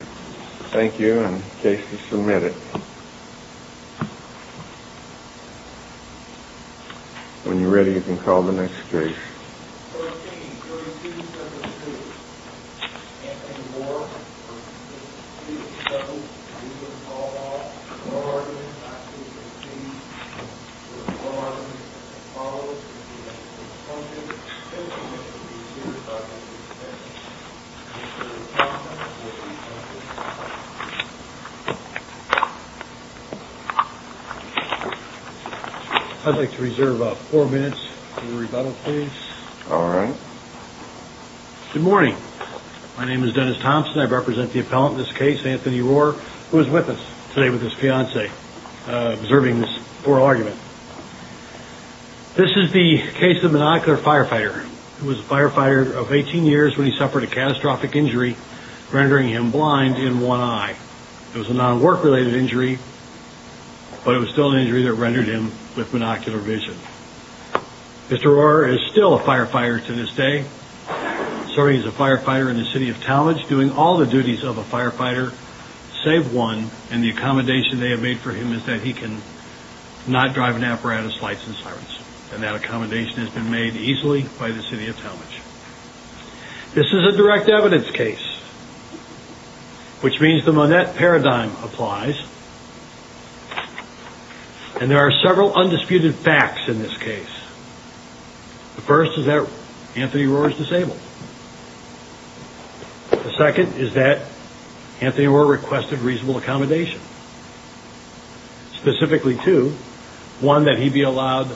Thank you and in case you submit it, when you're ready you can call the next case. I'd like to reserve four minutes for rebuttal please. Good morning. My name is Dennis Thompson. I represent the appellant in this case, Anthony Rorrer, who is with us today with his fiancée, observing this oral argument. This is the case of the monocular firefighter. He was a firefighter of 18 years when he suffered a catastrophic injury rendering him blind in one eye. It was a non-work related injury, but it was still an injury that rendered him with monocular vision. Mr. Rorrer is still a firefighter to this day serving as a firefighter in the City of Talmadge doing all the duties of a firefighter save one, and the accommodation they have made for him is that he can not drive an apparatus, lights and sirens. And that accommodation has been made easily by the City of Talmadge. This is a direct evidence case, which means the Monette paradigm applies. And there are several undisputed facts in this case. The first is that Anthony Rorrer is disabled. The second is that Anthony Rorrer requested reasonable accommodation. Specifically two, one that he be allowed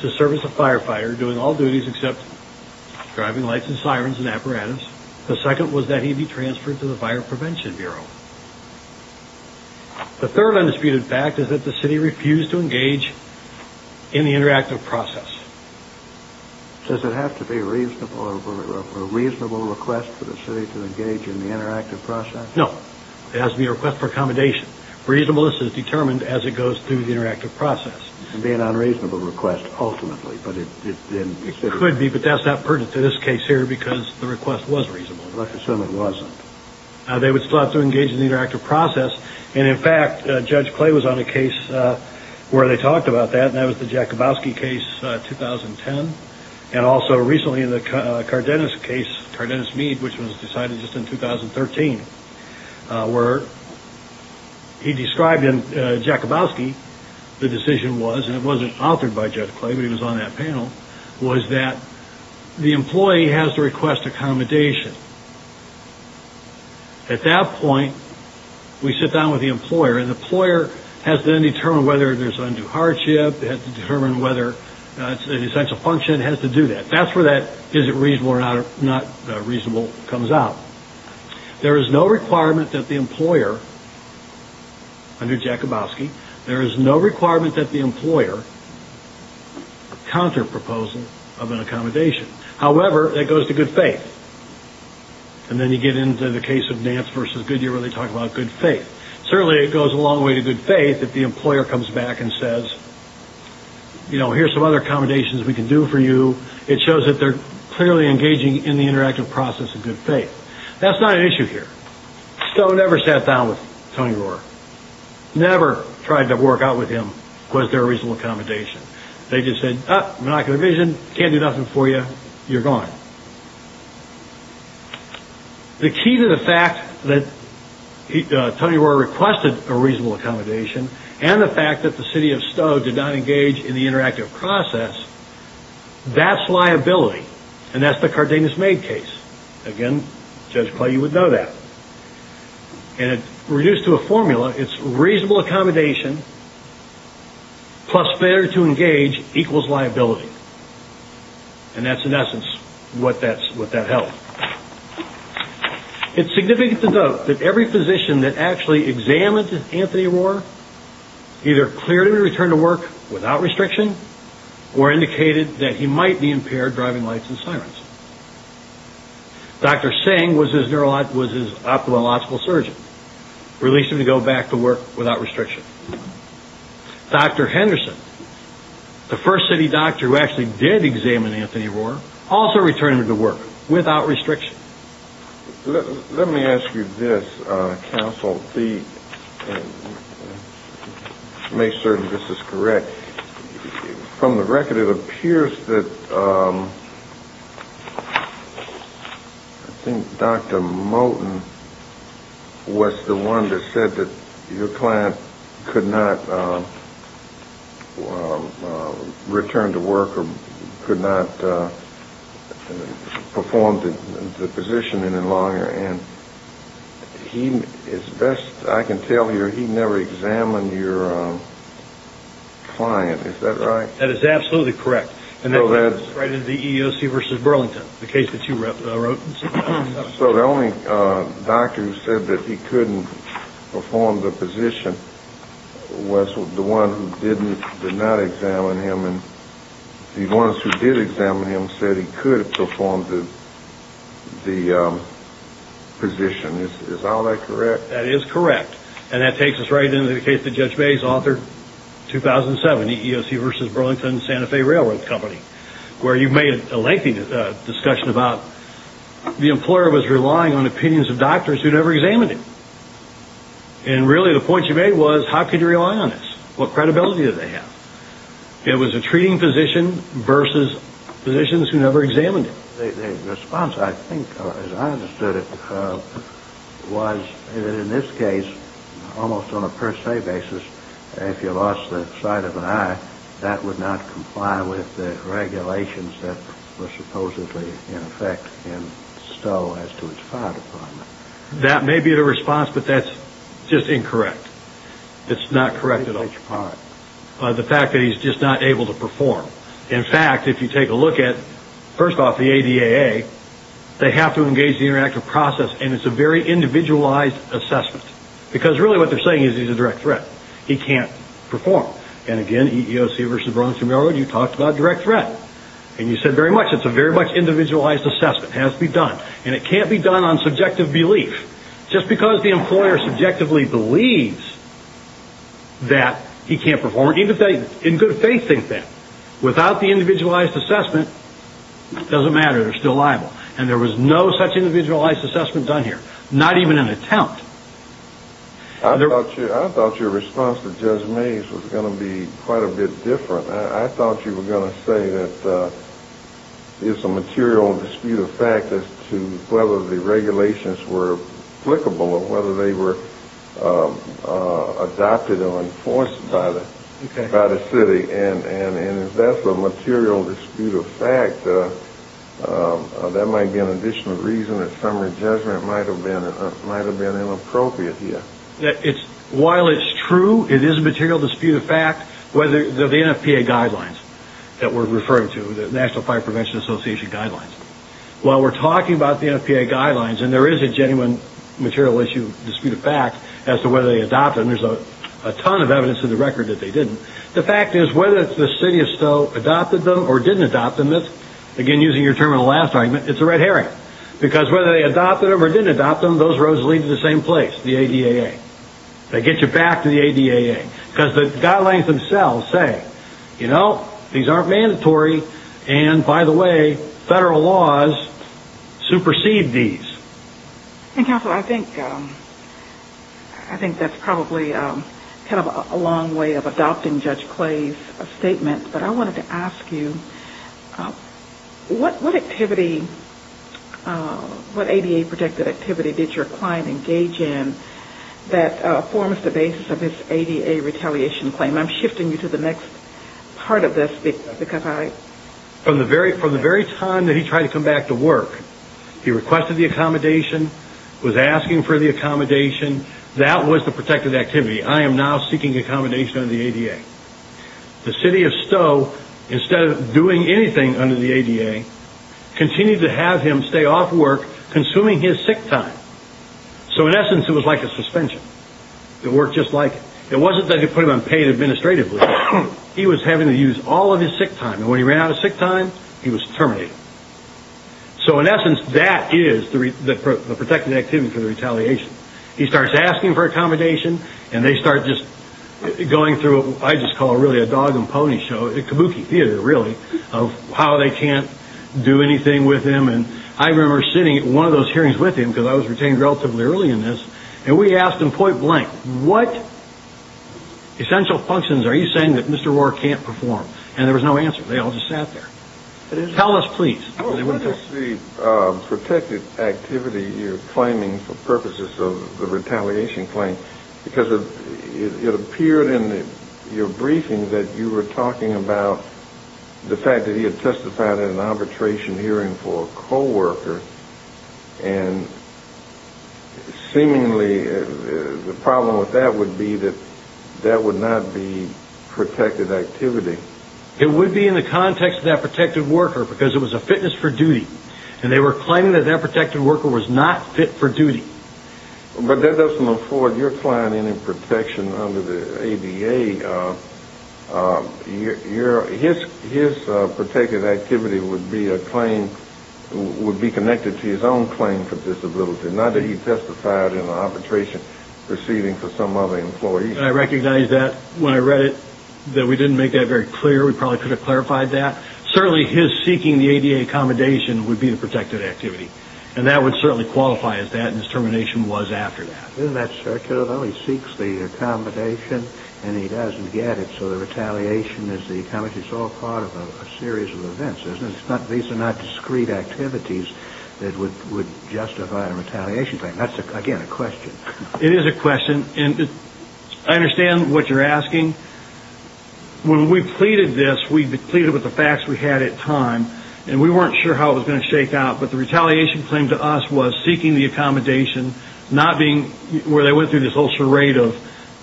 to serve as a firefighter doing all duties except driving lights and sirens and apparatus. The second was that he be transferred to the Fire Prevention Bureau. The third undisputed fact is that the City refused to engage in the interactive process. Does it have to be a reasonable request for the City to engage in the interactive process? No. It has to be a request for accommodation. Reasonableness is determined as it goes through the interactive process. It can be an unreasonable request ultimately, but it didn't exist. It could be, but that's not pertinent to this case here because the request was reasonable. Let's assume it wasn't. They would still have to engage in the interactive process, and in fact Judge Clay was on a case where they talked about that, and that was the Jakabowski case, 2010, and also recently the Cardenas case, Cardenas-Mead, which was decided just in 2013, where he described in Jakabowski the decision was, and it wasn't authored by Judge Clay, but he was on that panel, was that the employee has to request accommodation. At that point, we sit down with the employer, and the employer has to then determine whether there's undue hardship, has to determine whether it's an essential function, has to do that. That's where that is it reasonable or not reasonable comes out. There is no requirement that the employer, under Jakabowski, there is no requirement that the employer counter-proposal of an accommodation. However, that goes to good faith. And then you get into the case of Nance v. Goodyear where they talk about good faith. Certainly, it goes a long way to good faith if the employer comes back and says, you know, here's some other accommodations we can do for you. It shows that they're clearly engaging in the interactive process in good faith. That's not an issue here. Stowe never sat down with Tony Rohrer. Never tried to work out with him was there a reasonable accommodation. They just said, oh, monocular vision, can't do nothing for you, you're gone. The key to the fact that Tony Rohrer requested a reasonable accommodation and the fact that the city of Stowe did not engage in the interactive process, that's liability, and that's the Cardenas-Maid case. Again, Judge Clay, you would know that. And reduced to a formula, it's reasonable accommodation plus failure to engage equals liability. And that's, in essence, what that held. It's significant to note that every physician that actually examined Anthony Rohrer either clearly returned to work without restriction or indicated that he might be impaired driving lights and sirens. Dr. Singh was his ophthalmological surgeon. Released him to go back to work without restriction. Dr. Henderson, the first city doctor who actually did examine Anthony Rohrer, also returned to work without restriction. Let me ask you this, Counsel, to make certain this is correct. From the record, it appears that I think Dr. Moten was the one that said that your client could not return to work or could not perform the physician any longer. And he, as best I can tell you, he never examined your client. Is that right? That is absolutely correct. And that was in the EEOC v. Burlington, the case that you wrote. So the only doctor who said that he couldn't perform the physician was the one who did not examine him. And the ones who did examine him said he could have performed the physician. Is all that correct? That is correct. And that takes us right into the case that Judge Mays authored in 2007, the EEOC v. Burlington Santa Fe Railroad Company, where you made a lengthy discussion about the employer was relying on opinions of doctors who had never examined him. And really the point you made was how could you rely on this? What credibility did they have? It was a treating physician versus physicians who never examined him. The response, I think, as I understood it, was that in this case, almost on a per se basis, if you lost the sight of an eye, that would not comply with the regulations that were supposedly in effect in Stowe as to its fire department. That may be the response, but that's just incorrect. It's not correct at all. All right. The fact that he's just not able to perform. In fact, if you take a look at, first off, the ADAA, they have to engage the interactive process, and it's a very individualized assessment. Because really what they're saying is he's a direct threat. He can't perform. And again, EEOC v. Burlington Railroad, you talked about direct threat. And you said very much it's a very much individualized assessment. It has to be done. And it can't be done on subjective belief. Just because the employer subjectively believes that he can't perform, even if they in good faith think that, without the individualized assessment, it doesn't matter. They're still liable. And there was no such individualized assessment done here. Not even an attempt. I thought your response to Judge Mays was going to be quite a bit different. I thought you were going to say that it's a material dispute of fact as to whether the regulations were applicable or whether they were adopted or enforced by the city. And if that's a material dispute of fact, that might be an additional reason that summary judgment might have been inappropriate here. While it's true it is a material dispute of fact, the NFPA guidelines that we're referring to, the National Fire Prevention Association guidelines, while we're talking about the NFPA guidelines, and there is a genuine material dispute of fact as to whether they adopted them, there's a ton of evidence in the record that they didn't, the fact is whether the city of Stowe adopted them or didn't adopt them, again using your term in the last argument, it's a red herring. Because whether they adopted them or didn't adopt them, those roads lead to the same place, the ADAA. They get you back to the ADAA. Because the guidelines themselves say, you know, these aren't mandatory, and by the way, federal laws supersede these. And Counselor, I think that's probably kind of a long way of adopting Judge Clay's statement, but I wanted to ask you, what activity, what ADAA-protected activity did your client engage in that forms the basis of this ADAA retaliation claim? I'm shifting you to the next part of this. From the very time that he tried to come back to work, he requested the accommodation, was asking for the accommodation, that was the protected activity. I am now seeking accommodation under the ADAA. The city of Stowe, instead of doing anything under the ADAA, continued to have him stay off work, consuming his sick time. So in essence, it was like a suspension. It worked just like it. It wasn't that they put him on paid administrative leave. He was having to use all of his sick time. And when he ran out of sick time, he was terminated. So in essence, that is the protected activity for the retaliation. He starts asking for accommodation, and they start just going through what I just call really a dog and pony show, a kabuki theater, really, of how they can't do anything with him. And I remember sitting at one of those hearings with him, because I was retained relatively early in this, and we asked him point blank, what essential functions are you saying that Mr. Rohrer can't perform? And there was no answer. They all just sat there. Tell us, please. What is the protected activity you're claiming for purposes of the retaliation claim? Because it appeared in your briefing that you were talking about And seemingly the problem with that would be that that would not be protected activity. It would be in the context of that protected worker, because it was a fitness for duty. And they were claiming that that protected worker was not fit for duty. But that doesn't afford your client any protection under the ADA. His protected activity would be connected to his own claim for disability, not that he testified in an arbitration proceeding for some other employee. I recognize that when I read it, that we didn't make that very clear. We probably could have clarified that. Certainly his seeking the ADA accommodation would be the protected activity, and that would certainly qualify as that, and his termination was after that. Isn't that circular, though? He seeks the accommodation, and he doesn't get it. So the retaliation is the accommodation. It's all part of a series of events, isn't it? These are not discrete activities that would justify a retaliation claim. That's, again, a question. It is a question, and I understand what you're asking. When we pleaded this, we pleaded with the facts we had at the time, and we weren't sure how it was going to shake out. But the retaliation claim to us was seeking the accommodation, where they went through this whole charade of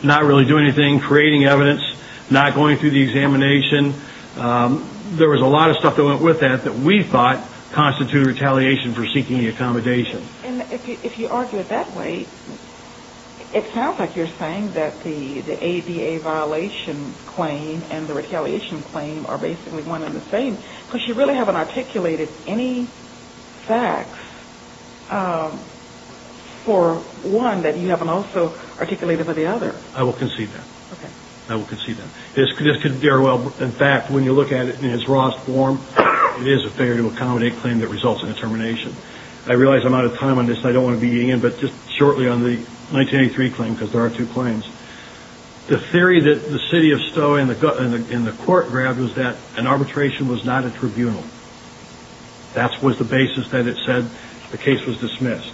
not really doing anything, creating evidence, not going through the examination. There was a lot of stuff that went with that that we thought constituted retaliation for seeking the accommodation. If you argue it that way, it sounds like you're saying that the ADA violation claim and the retaliation claim are basically one and the same because you really haven't articulated any facts for one that you haven't also articulated for the other. I will concede that. Okay. I will concede that. This could very well, in fact, when you look at it in its rawest form, it is a failure to accommodate claim that results in a termination. I realize I'm out of time on this, and I don't want to be eating in, but just shortly on the 1983 claim, because there are two claims. The theory that the city of Stowe and the court grabbed was that an arbitration was not a tribunal. That was the basis that it said the case was dismissed.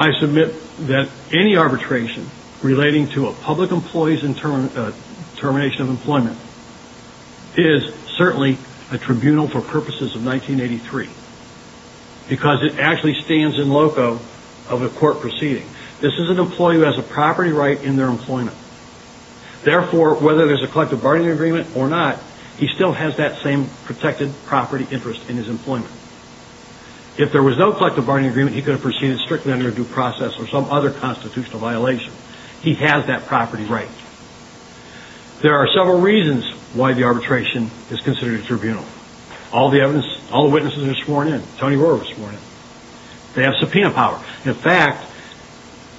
I submit that any arbitration relating to a public employee's termination of employment is certainly a tribunal for purposes of 1983 because it actually stands in loco of a court proceeding. This is an employee who has a property right in their employment. Therefore, whether there's a collective bargaining agreement or not, he still has that same protected property interest in his employment. If there was no collective bargaining agreement, he could have proceeded strictly under due process or some other constitutional violation. He has that property right. There are several reasons why the arbitration is considered a tribunal. All the witnesses are sworn in. Tony Rohrer was sworn in. They have subpoena power. In fact,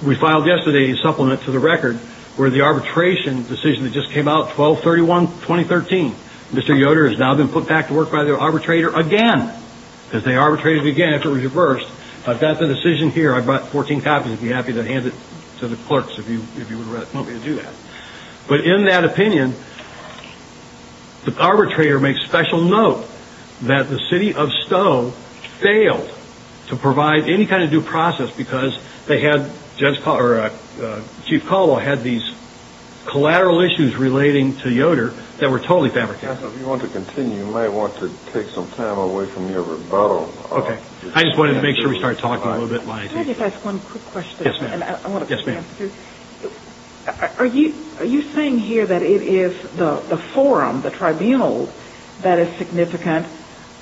we filed yesterday a supplement to the record where the arbitration decision that just came out, 12-31-2013, Mr. Yoder has now been put back to work by the arbitrator again because they arbitrated again after it was reversed. I've got the decision here. I brought 14 copies. I'd be happy to hand it to the clerks if you want me to do that. But in that opinion, the arbitrator makes special note that the city of Stowe failed to provide any kind of due process because Chief Colwell had these collateral issues relating to Yoder that were totally fabricated. If you want to continue, you may want to take some time away from your rebuttal. Okay. I just wanted to make sure we started talking a little bit. Can I just ask one quick question? Yes, ma'am. I want to get an answer. Are you saying here that it is the forum, the tribunal, that is significant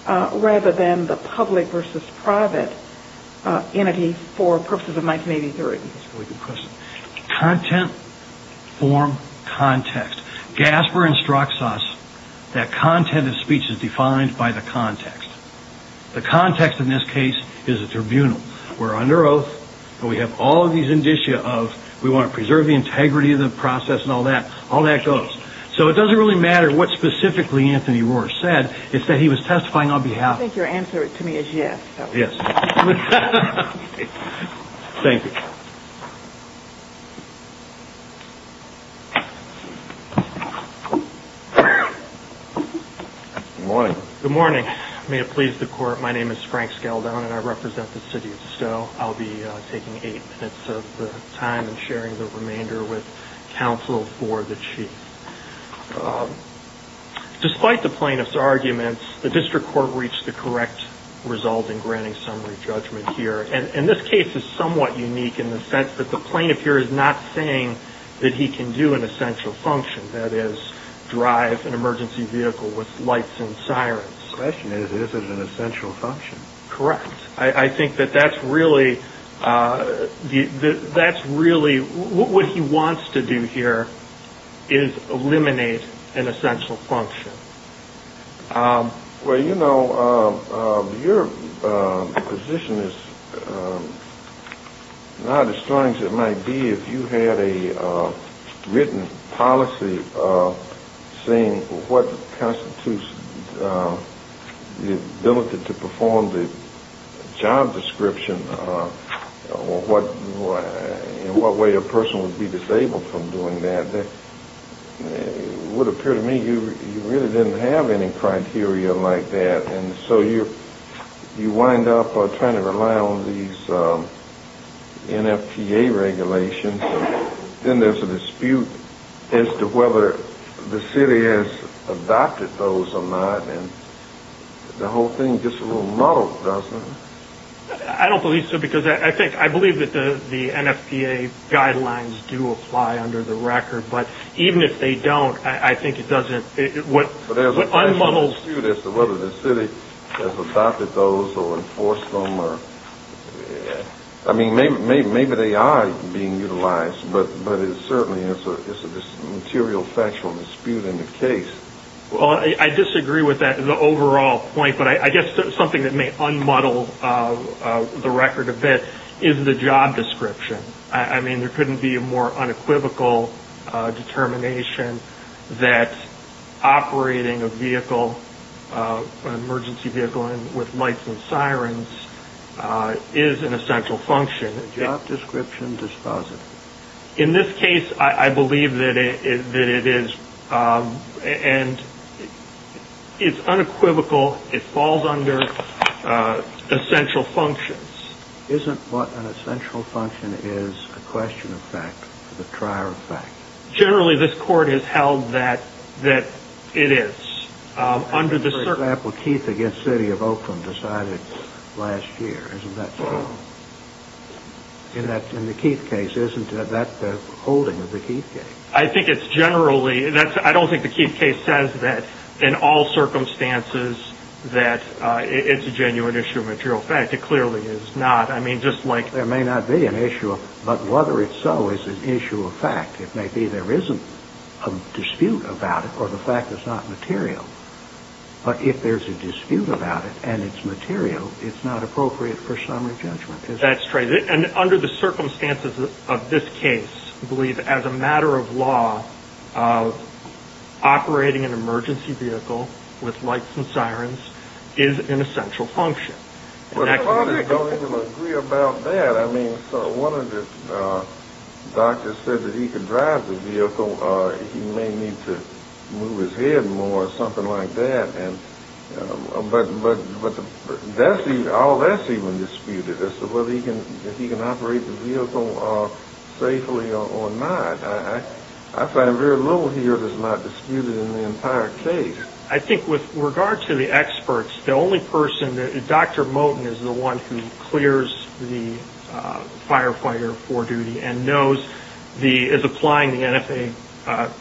rather than the public versus private entity for purposes of 1983? That's a really good question. Content, form, context. Gasper instructs us that content of speech is defined by the context. The context in this case is a tribunal. We're under oath, and we have all of these indicia of we want to preserve the integrity of the process and all that. All that goes. So it doesn't really matter what specifically Anthony Rohr said. It's that he was testifying on behalf of I think your answer to me is yes. Yes. Thank you. Good morning. Good morning. May it please the Court. My name is Frank Scaldon, and I represent the city of Stowe. I'll be taking eight minutes of the time and sharing the remainder with counsel for the Chief. Despite the plaintiff's arguments, the district court reached the correct result in granting summary judgment here. And this case is somewhat unique in the sense that the plaintiff here is not saying that he can do an essential function, that is drive an emergency vehicle with lights and sirens. The question is, is it an essential function? Correct. I think that that's really what he wants to do here is eliminate an essential function. Well, you know, your position is not as strong as it might be if you had a written policy saying what constitutes the ability to perform the job description or what way a person would be disabled from doing that. It would appear to me you really didn't have any criteria like that. And so you wind up trying to rely on these NFPA regulations. Then there's a dispute as to whether the city has adopted those or not, and the whole thing gets a little muddled, doesn't it? I don't believe so, because I believe that the NFPA guidelines do apply under the record. But even if they don't, I think it doesn't. But there's a factual dispute as to whether the city has adopted those or enforced them. I mean, maybe they are being utilized, but it certainly is a material, factual dispute in the case. Well, I disagree with that in the overall point, but I guess something that may un-muddle the record a bit is the job description. I mean, there couldn't be a more unequivocal determination that operating an emergency vehicle with lights and sirens is an essential function. Job description dispositive. In this case, I believe that it is. And it's unequivocal. It falls under essential functions. Isn't what an essential function is a question of fact to the trier of fact? Generally, this Court has held that it is. For example, Keith against City of Oakland decided last year. Isn't that so? In the Keith case, isn't that the holding of the Keith case? I think it's generally. I don't think the Keith case says that, in all circumstances, that it's a genuine issue of material fact. It clearly is not. I mean, just like there may not be an issue, but whether it's so is an issue of fact. It may be there isn't a dispute about it or the fact is not material. But if there's a dispute about it and it's material, it's not appropriate for summary judgment. That's true. And under the circumstances of this case, I believe as a matter of law operating an emergency vehicle with lights and sirens is an essential function. Well, everybody's going to agree about that. I mean, one of the doctors said that he could drive the vehicle. He may need to move his head more or something like that. But all that's even disputed as to whether he can operate the vehicle safely or not. I find very little here that's not disputed in the entire case. I think with regard to the experts, the only person that, Dr. Moten is the one who clears the firefighter for duty and knows the, is applying the NFA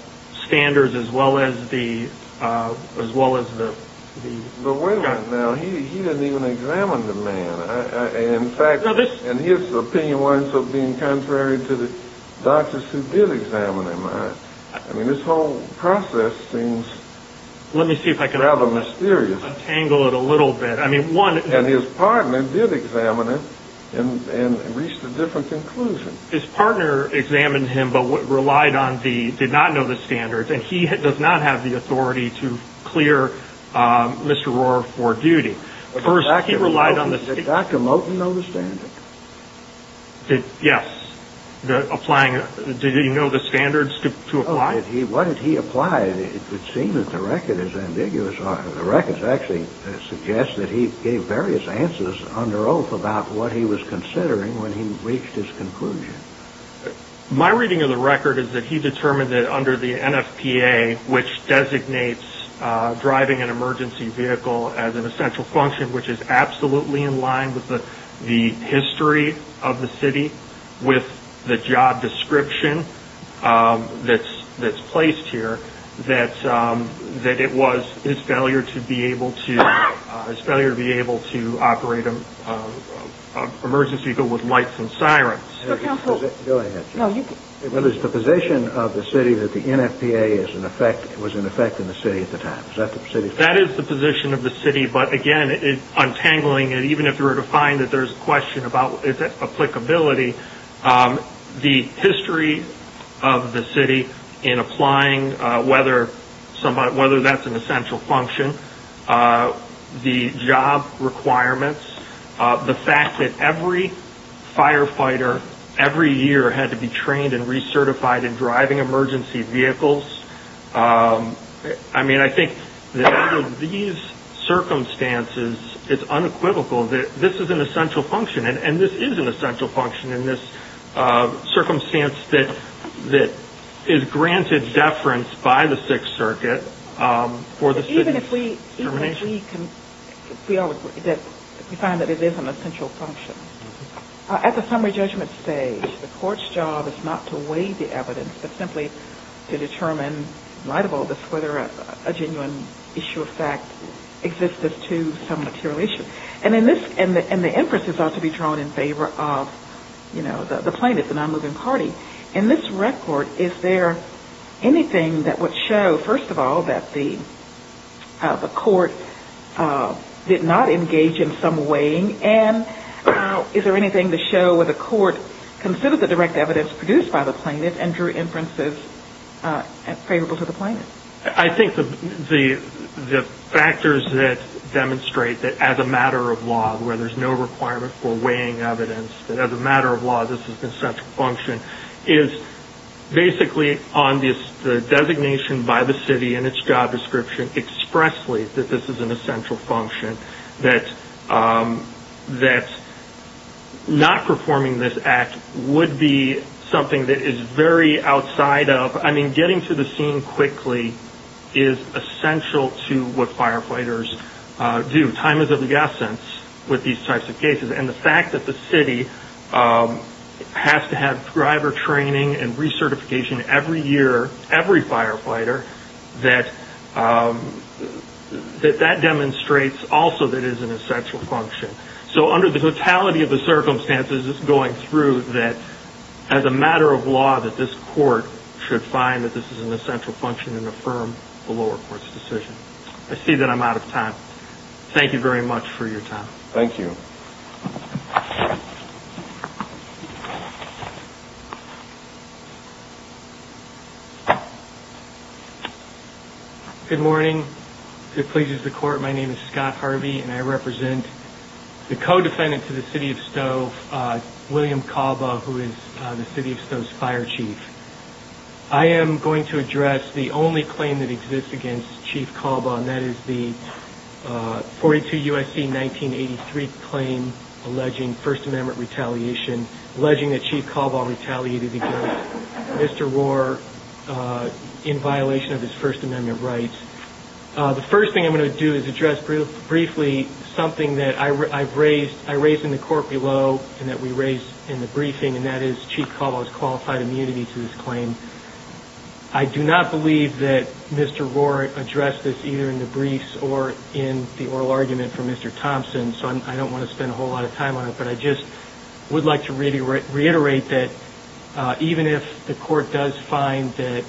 standards as well as the, as well as the. But wait a minute now, he didn't even examine the man. In fact, and his opinion wasn't so being contrary to the doctors who did examine him. I mean, this whole process seems rather mysterious. Let me see if I can untangle it a little bit. I mean, one. And his partner did examine him and reached a different conclusion. His partner examined him but relied on the, did not know the standards, and he does not have the authority to clear Mr. Rohr for duty. First, he relied on the. Did Dr. Moten know the standards? Yes. Applying, did he know the standards to apply? What did he apply? It would seem that the record is ambiguous. The records actually suggest that he gave various answers under oath about what he was considering when he reached his conclusion. My reading of the record is that he determined that under the NFPA, which designates driving an emergency vehicle as an essential function, which is absolutely in line with the history of the city, with the job description that's placed here, that it was his failure to be able to operate an emergency vehicle with lights and sirens. Go ahead. It was the position of the city that the NFPA was in effect in the city at the time. Is that the position? That is the position of the city, but, again, untangling it, even if you were to find that there's a question about its applicability, the history of the city in applying whether that's an essential function, the job requirements, the fact that every firefighter every year had to be trained and recertified in driving emergency vehicles. I mean, I think that under these circumstances, it's unequivocal that this is an essential function, and this is an essential function in this circumstance that is granted deference by the Sixth Circuit for the city's determination. Even if we can feel that we find that it is an essential function. At the summary judgment stage, the court's job is not to weigh the evidence, but simply to determine, in light of all this, whether a genuine issue of fact exists as to some material issue. And the emphasis ought to be drawn in favor of the plaintiff, the non-moving party. In this record, is there anything that would show, first of all, that the court did not engage in some weighing and is there anything to show where the court considered the direct evidence produced by the plaintiff and drew inferences favorable to the plaintiff? I think the factors that demonstrate that as a matter of law, where there's no requirement for weighing evidence, that as a matter of law, this is an essential function, is basically on the designation by the city and its job description expressly that this is an essential function, that not performing this act would be something that is very outside of – I mean, getting to the scene quickly is essential to what firefighters do. Time is of the essence with these types of cases, and the fact that the city has to have driver training and recertification every year, every firefighter, that that demonstrates also that it is an essential function. So under the totality of the circumstances, it's going through that as a matter of law, that this court should find that this is an essential function and affirm the lower court's decision. I see that I'm out of time. Thank you very much for your time. Thank you. Good morning. If it pleases the court, my name is Scott Harvey, and I represent the co-defendant to the city of Stowe, William Calba, who is the city of Stowe's fire chief. I am going to address the only claim that exists against Chief Calba, and that is the 42 U.S.C. 1983 claim alleging First Amendment retaliation, alleging that Chief Calba retaliated against Mr. Rohr in violation of his First Amendment rights. The first thing I'm going to do is address briefly something that I raised in the court below and that we raised in the briefing, and that is Chief Calba's qualified immunity to this claim. I do not believe that Mr. Rohr addressed this either in the briefs or in the oral argument for Mr. Thompson, so I don't want to spend a whole lot of time on it, but I just would like to reiterate that even if the court does find that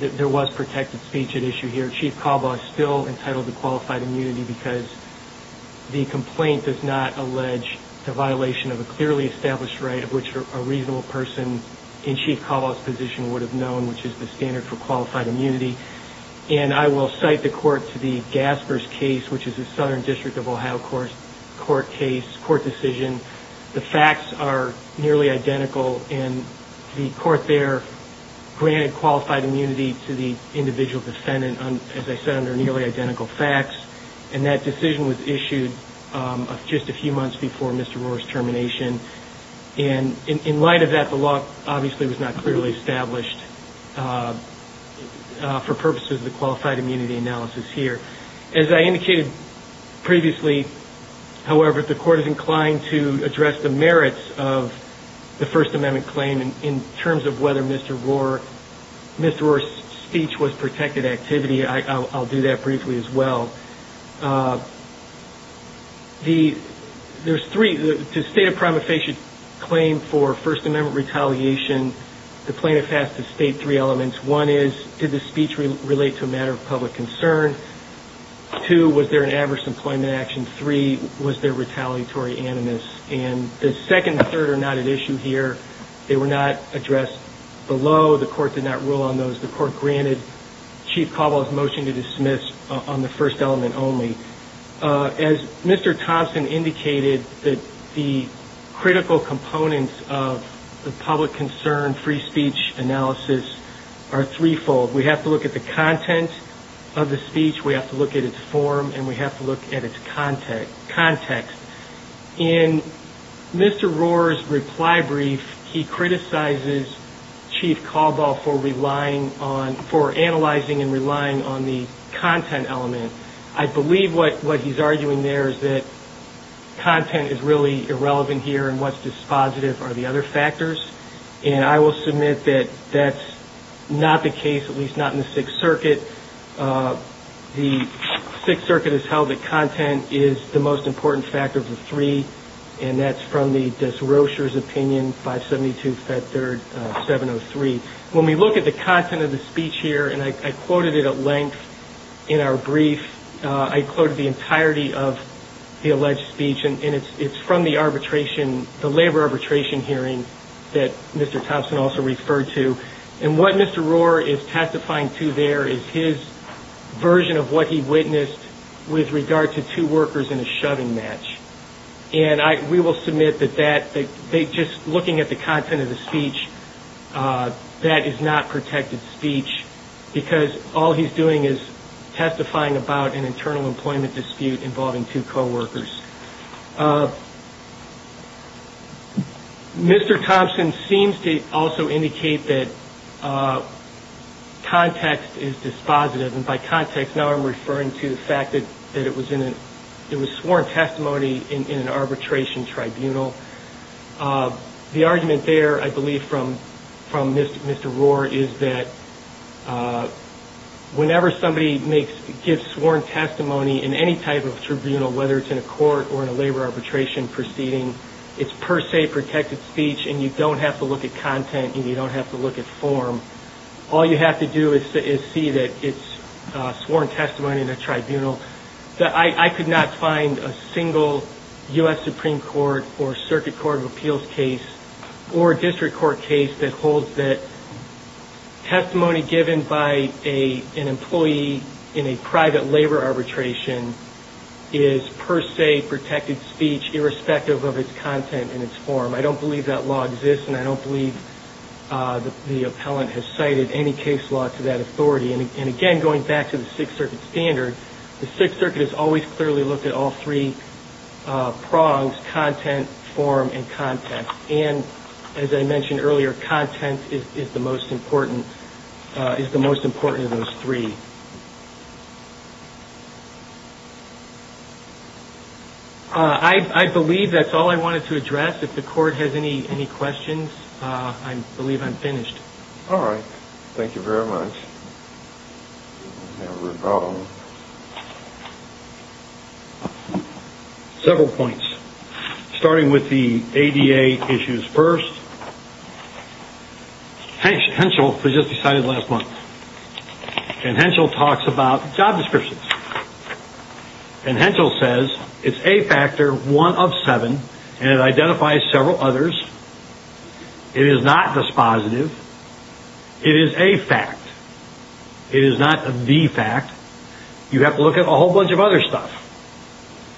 there was protected speech at issue here, Chief Calba is still entitled to qualified immunity because the complaint does not allege the violation of a clearly established right of which a reasonable person in Chief Calba's position would have known, which is the standard for qualified immunity. And I will cite the court to the Gaspers case, which is a Southern District of Ohio court decision. The facts are nearly identical, and the court there granted qualified immunity to the individual defendant, as I said, under nearly identical facts, and that decision was issued just a few months before Mr. Rohr's termination. And in light of that, the law obviously was not clearly established for purposes of the qualified immunity analysis here. As I indicated previously, however, the court is inclined to address the merits of the First Amendment claim in terms of whether Mr. Rohr's speech was protected activity. I'll do that briefly as well. There's three. The state of prima facie claim for First Amendment retaliation, the plaintiff has to state three elements. One is, did the speech relate to a matter of public concern? Two, was there an adverse employment action? Three, was there retaliatory animus? And the second and third are not at issue here. They were not addressed below. The court did not rule on those. The court granted Chief Caldwell's motion to dismiss on the First Element only. As Mr. Thompson indicated, the critical components of the public concern free speech analysis are threefold. We have to look at the content of the speech, we have to look at its form, and we have to look at its context. In Mr. Rohr's reply brief, he criticizes Chief Caldwell for relying on, for analyzing and relying on the content element. I believe what he's arguing there is that content is really irrelevant here and what's dispositive are the other factors. And I will submit that that's not the case, at least not in the Sixth Circuit. The Sixth Circuit has held that content is the most important factor of the three, and that's from the Desrochers' opinion, 572, Fed Third, 703. When we look at the content of the speech here, and I quoted it at length in our brief, I quoted the entirety of the alleged speech, and it's from the arbitration, the labor arbitration hearing that Mr. Thompson also referred to. And what Mr. Rohr is testifying to there is his version of what he witnessed with regard to two workers in a shoving match. And we will submit that just looking at the content of the speech, that is not protected speech, because all he's doing is testifying about an internal employment dispute involving two coworkers. Mr. Thompson seems to also indicate that context is dispositive, and by context now I'm referring to the fact that it was sworn testimony in an arbitration tribunal. The argument there, I believe, from Mr. Rohr is that whenever somebody gives sworn testimony in any type of tribunal, whether it's in a court or in a labor arbitration proceeding, it's per se protected speech, and you don't have to look at content, and you don't have to look at form. All you have to do is see that it's sworn testimony in a tribunal. I could not find a single U.S. Supreme Court or Circuit Court of Appeals case, or a district court case, that holds that testimony given by an employee in a private labor arbitration is per se protected speech irrespective of its content and its form. I don't believe that law exists, and I don't believe the appellant has cited any case law to that authority. And again, going back to the Sixth Circuit standard, the Sixth Circuit has always clearly looked at all three prongs, content, form, and context. And as I mentioned earlier, content is the most important of those three. I believe that's all I wanted to address. If the Court has any questions, I believe I'm finished. All right. Thank you very much. We have a rebuttal. Several points, starting with the ADA issues first. Henschel was just decided last month, and Henschel talks about job descriptions. And Henschel says, it's a factor one of seven, and it identifies several others. It is not dispositive. It is a fact. It is not the fact. You have to look at a whole bunch of other stuff.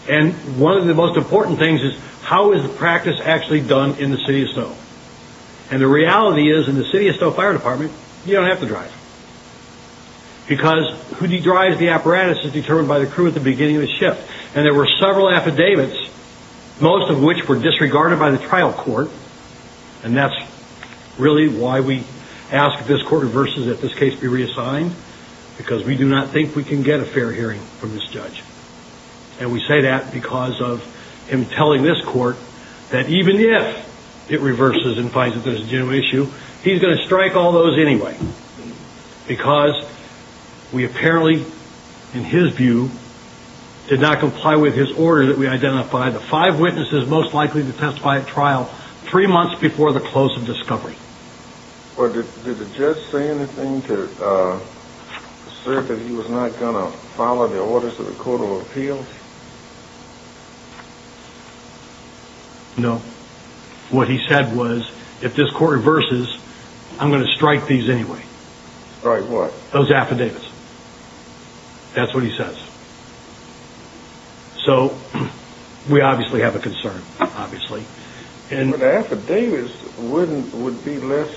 And one of the most important things is, how is the practice actually done in the City of Snow? And the reality is, in the City of Snow Fire Department, you don't have to drive. Because who drives the apparatus is determined by the crew at the beginning of the shift. And there were several affidavits, most of which were disregarded by the trial court, and that's really why we ask that this Court reverses, that this case be reassigned, because we do not think we can get a fair hearing from this judge. And we say that because of him telling this Court that even if it reverses and finds that there's a genuine issue, he's going to strike all those anyway, because we apparently, in his view, did not comply with his order that we identify the five witnesses most likely to testify at trial three months before the close of discovery. Well, did the judge say anything to assert that he was not going to follow the orders of the Court of Appeals? No. What he said was, if this Court reverses, I'm going to strike these anyway. Strike what? Those affidavits. That's what he says. So we obviously have a concern, obviously. But the affidavits would be less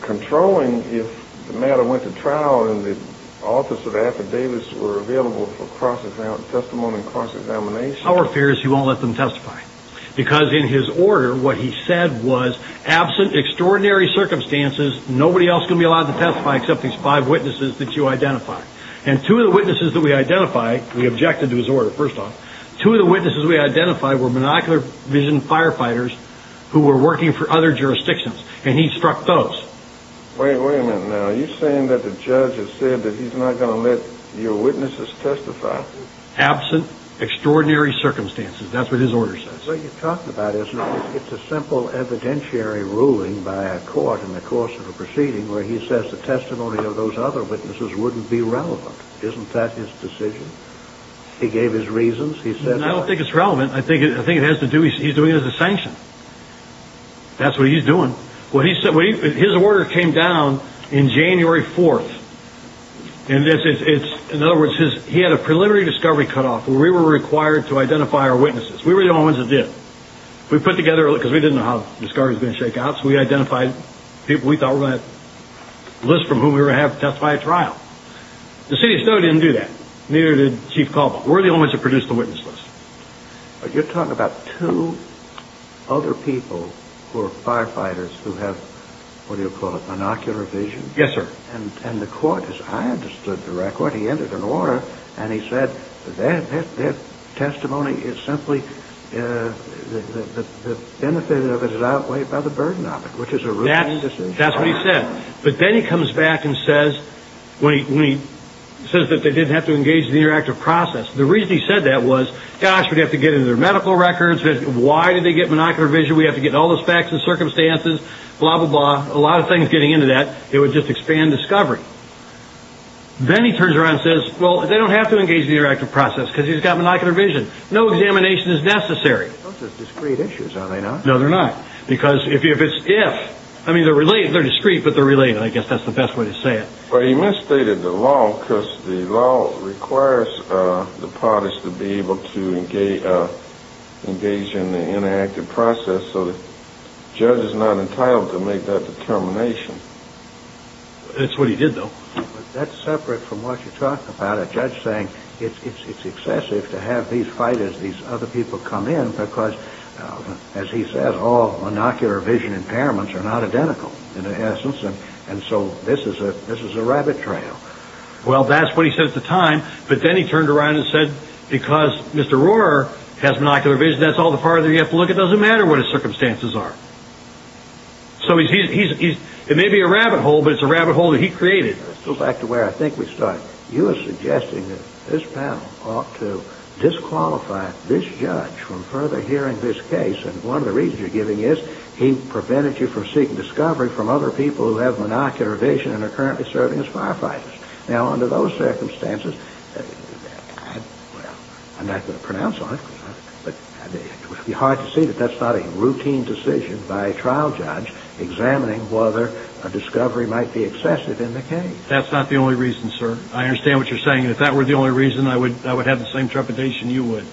controlling if the matter went to trial and the authors of the affidavits were available for cross-testimony and cross-examination. Our fear is he won't let them testify, because in his order, what he said was, absent extraordinary circumstances, nobody else is going to be allowed to testify except these five witnesses that you identify. And two of the witnesses that we identify, we objected to his order, first off. Two of the witnesses we identified were monocular vision firefighters who were working for other jurisdictions, and he struck those. Wait a minute now. Are you saying that the judge has said that he's not going to let your witnesses testify? Absent extraordinary circumstances. That's what his order says. That's what you're talking about, isn't it? It's a simple evidentiary ruling by a court in the course of a proceeding where he says the testimony of those other witnesses wouldn't be relevant. Isn't that his decision? He gave his reasons. I don't think it's relevant. I think it has to do with he's doing it as a sanction. That's what he's doing. His order came down on January 4th. In other words, he had a preliminary discovery cutoff where we were required to identify our witnesses. We were the only ones that did. We put together, because we didn't know how the story was going to shake out, so we identified people we thought were going to list from whom we were going to have to testify at trial. The city of Stowe didn't do that. Neither did Chief Caldwell. We're the only ones that produced the witness list. But you're talking about two other people who are firefighters who have, what do you call it, monocular vision? Yes, sir. And the court, as I understood the record, he entered an order, and he said their testimony is simply the benefit of it is outweighed by the burden of it, which is a routine decision. That's what he said. But then he comes back and says that they didn't have to engage in the interactive process. The reason he said that was, gosh, we'd have to get into their medical records. Why did they get monocular vision? We have to get all the facts and circumstances, blah, blah, blah, a lot of things getting into that. It would just expand discovery. Then he turns around and says, well, they don't have to engage in the interactive process because he's got monocular vision. No examination is necessary. Those are discrete issues, are they not? No, they're not. Because if it's if, I mean, they're discrete, but they're related. I guess that's the best way to say it. Well, he misstated the law because the law requires the parties to be able to engage in the interactive process, so the judge is not entitled to make that determination. That's what he did, though. That's separate from what you're talking about. A judge saying it's excessive to have these fighters, these other people come in because, as he said, all monocular vision impairments are not identical, in essence. And so this is a rabbit trail. Well, that's what he said at the time. But then he turned around and said, because Mr. Rohrer has monocular vision, that's all the part of it you have to look at. It doesn't matter what his circumstances are. So it may be a rabbit hole, but it's a rabbit hole that he created. Let's go back to where I think we started. You were suggesting that this panel ought to disqualify this judge from further hearing this case. And one of the reasons you're giving is he prevented you from seeking discovery from other people who have monocular vision and are currently serving as firefighters. Now, under those circumstances, I'm not going to pronounce on it, but it would be hard to see that that's not a routine decision by a trial judge examining whether a discovery might be excessive in the case. That's not the only reason, sir. I understand what you're saying. If that were the only reason, I would have the same trepidation you would.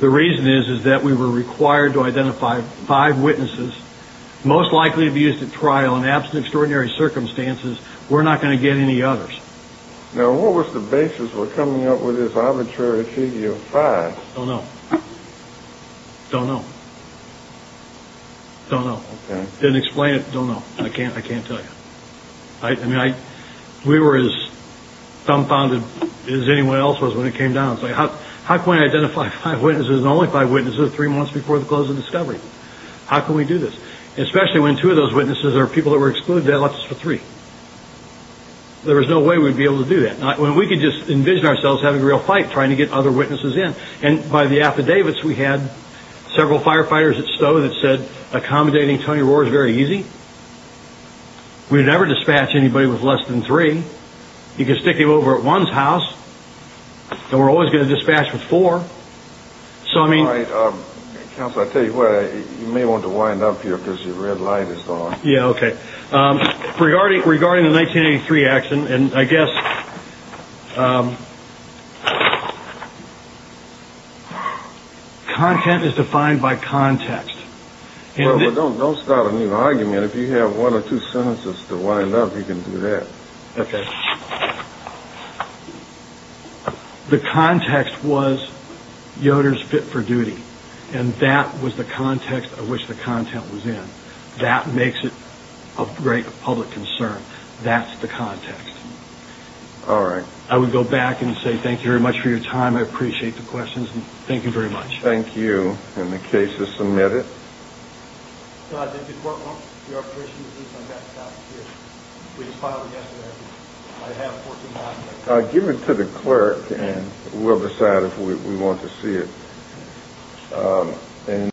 The reason is, is that we were required to identify five witnesses most likely to be used at trial in absent extraordinary circumstances. We're not going to get any others. Now, what was the basis for coming up with this arbitrary figure of five? I don't know. I don't know. I don't know. Didn't explain it. I don't know. I can't. I can't tell you. I mean, we were as dumbfounded as anyone else was when it came down. How can I identify five witnesses and only five witnesses three months before the close of discovery? How can we do this? Especially when two of those witnesses are people that were excluded, that left us with three. There was no way we'd be able to do that. We could just envision ourselves having a real fight trying to get other witnesses in. And by the affidavits, we had several firefighters at Stowe that said accommodating Tony Roar is very easy. We would never dispatch anybody with less than three. You could stick him over at one's house, and we're always going to dispatch with four. Counsel, I'll tell you what. You may want to wind up here because your red light is on. Yeah, okay. Regarding the 1983 action, and I guess content is defined by context. Don't start a new argument. If you have one or two sentences to wind up, you can do that. Okay. The context was Yoder's fit for duty, and that was the context of which the content was in. That makes it a great public concern. That's the context. All right. I would go back and say thank you very much for your time. I appreciate the questions, and thank you very much. Thank you. And the case is submitted. I'll give it to the clerk and we'll decide if we want to see it.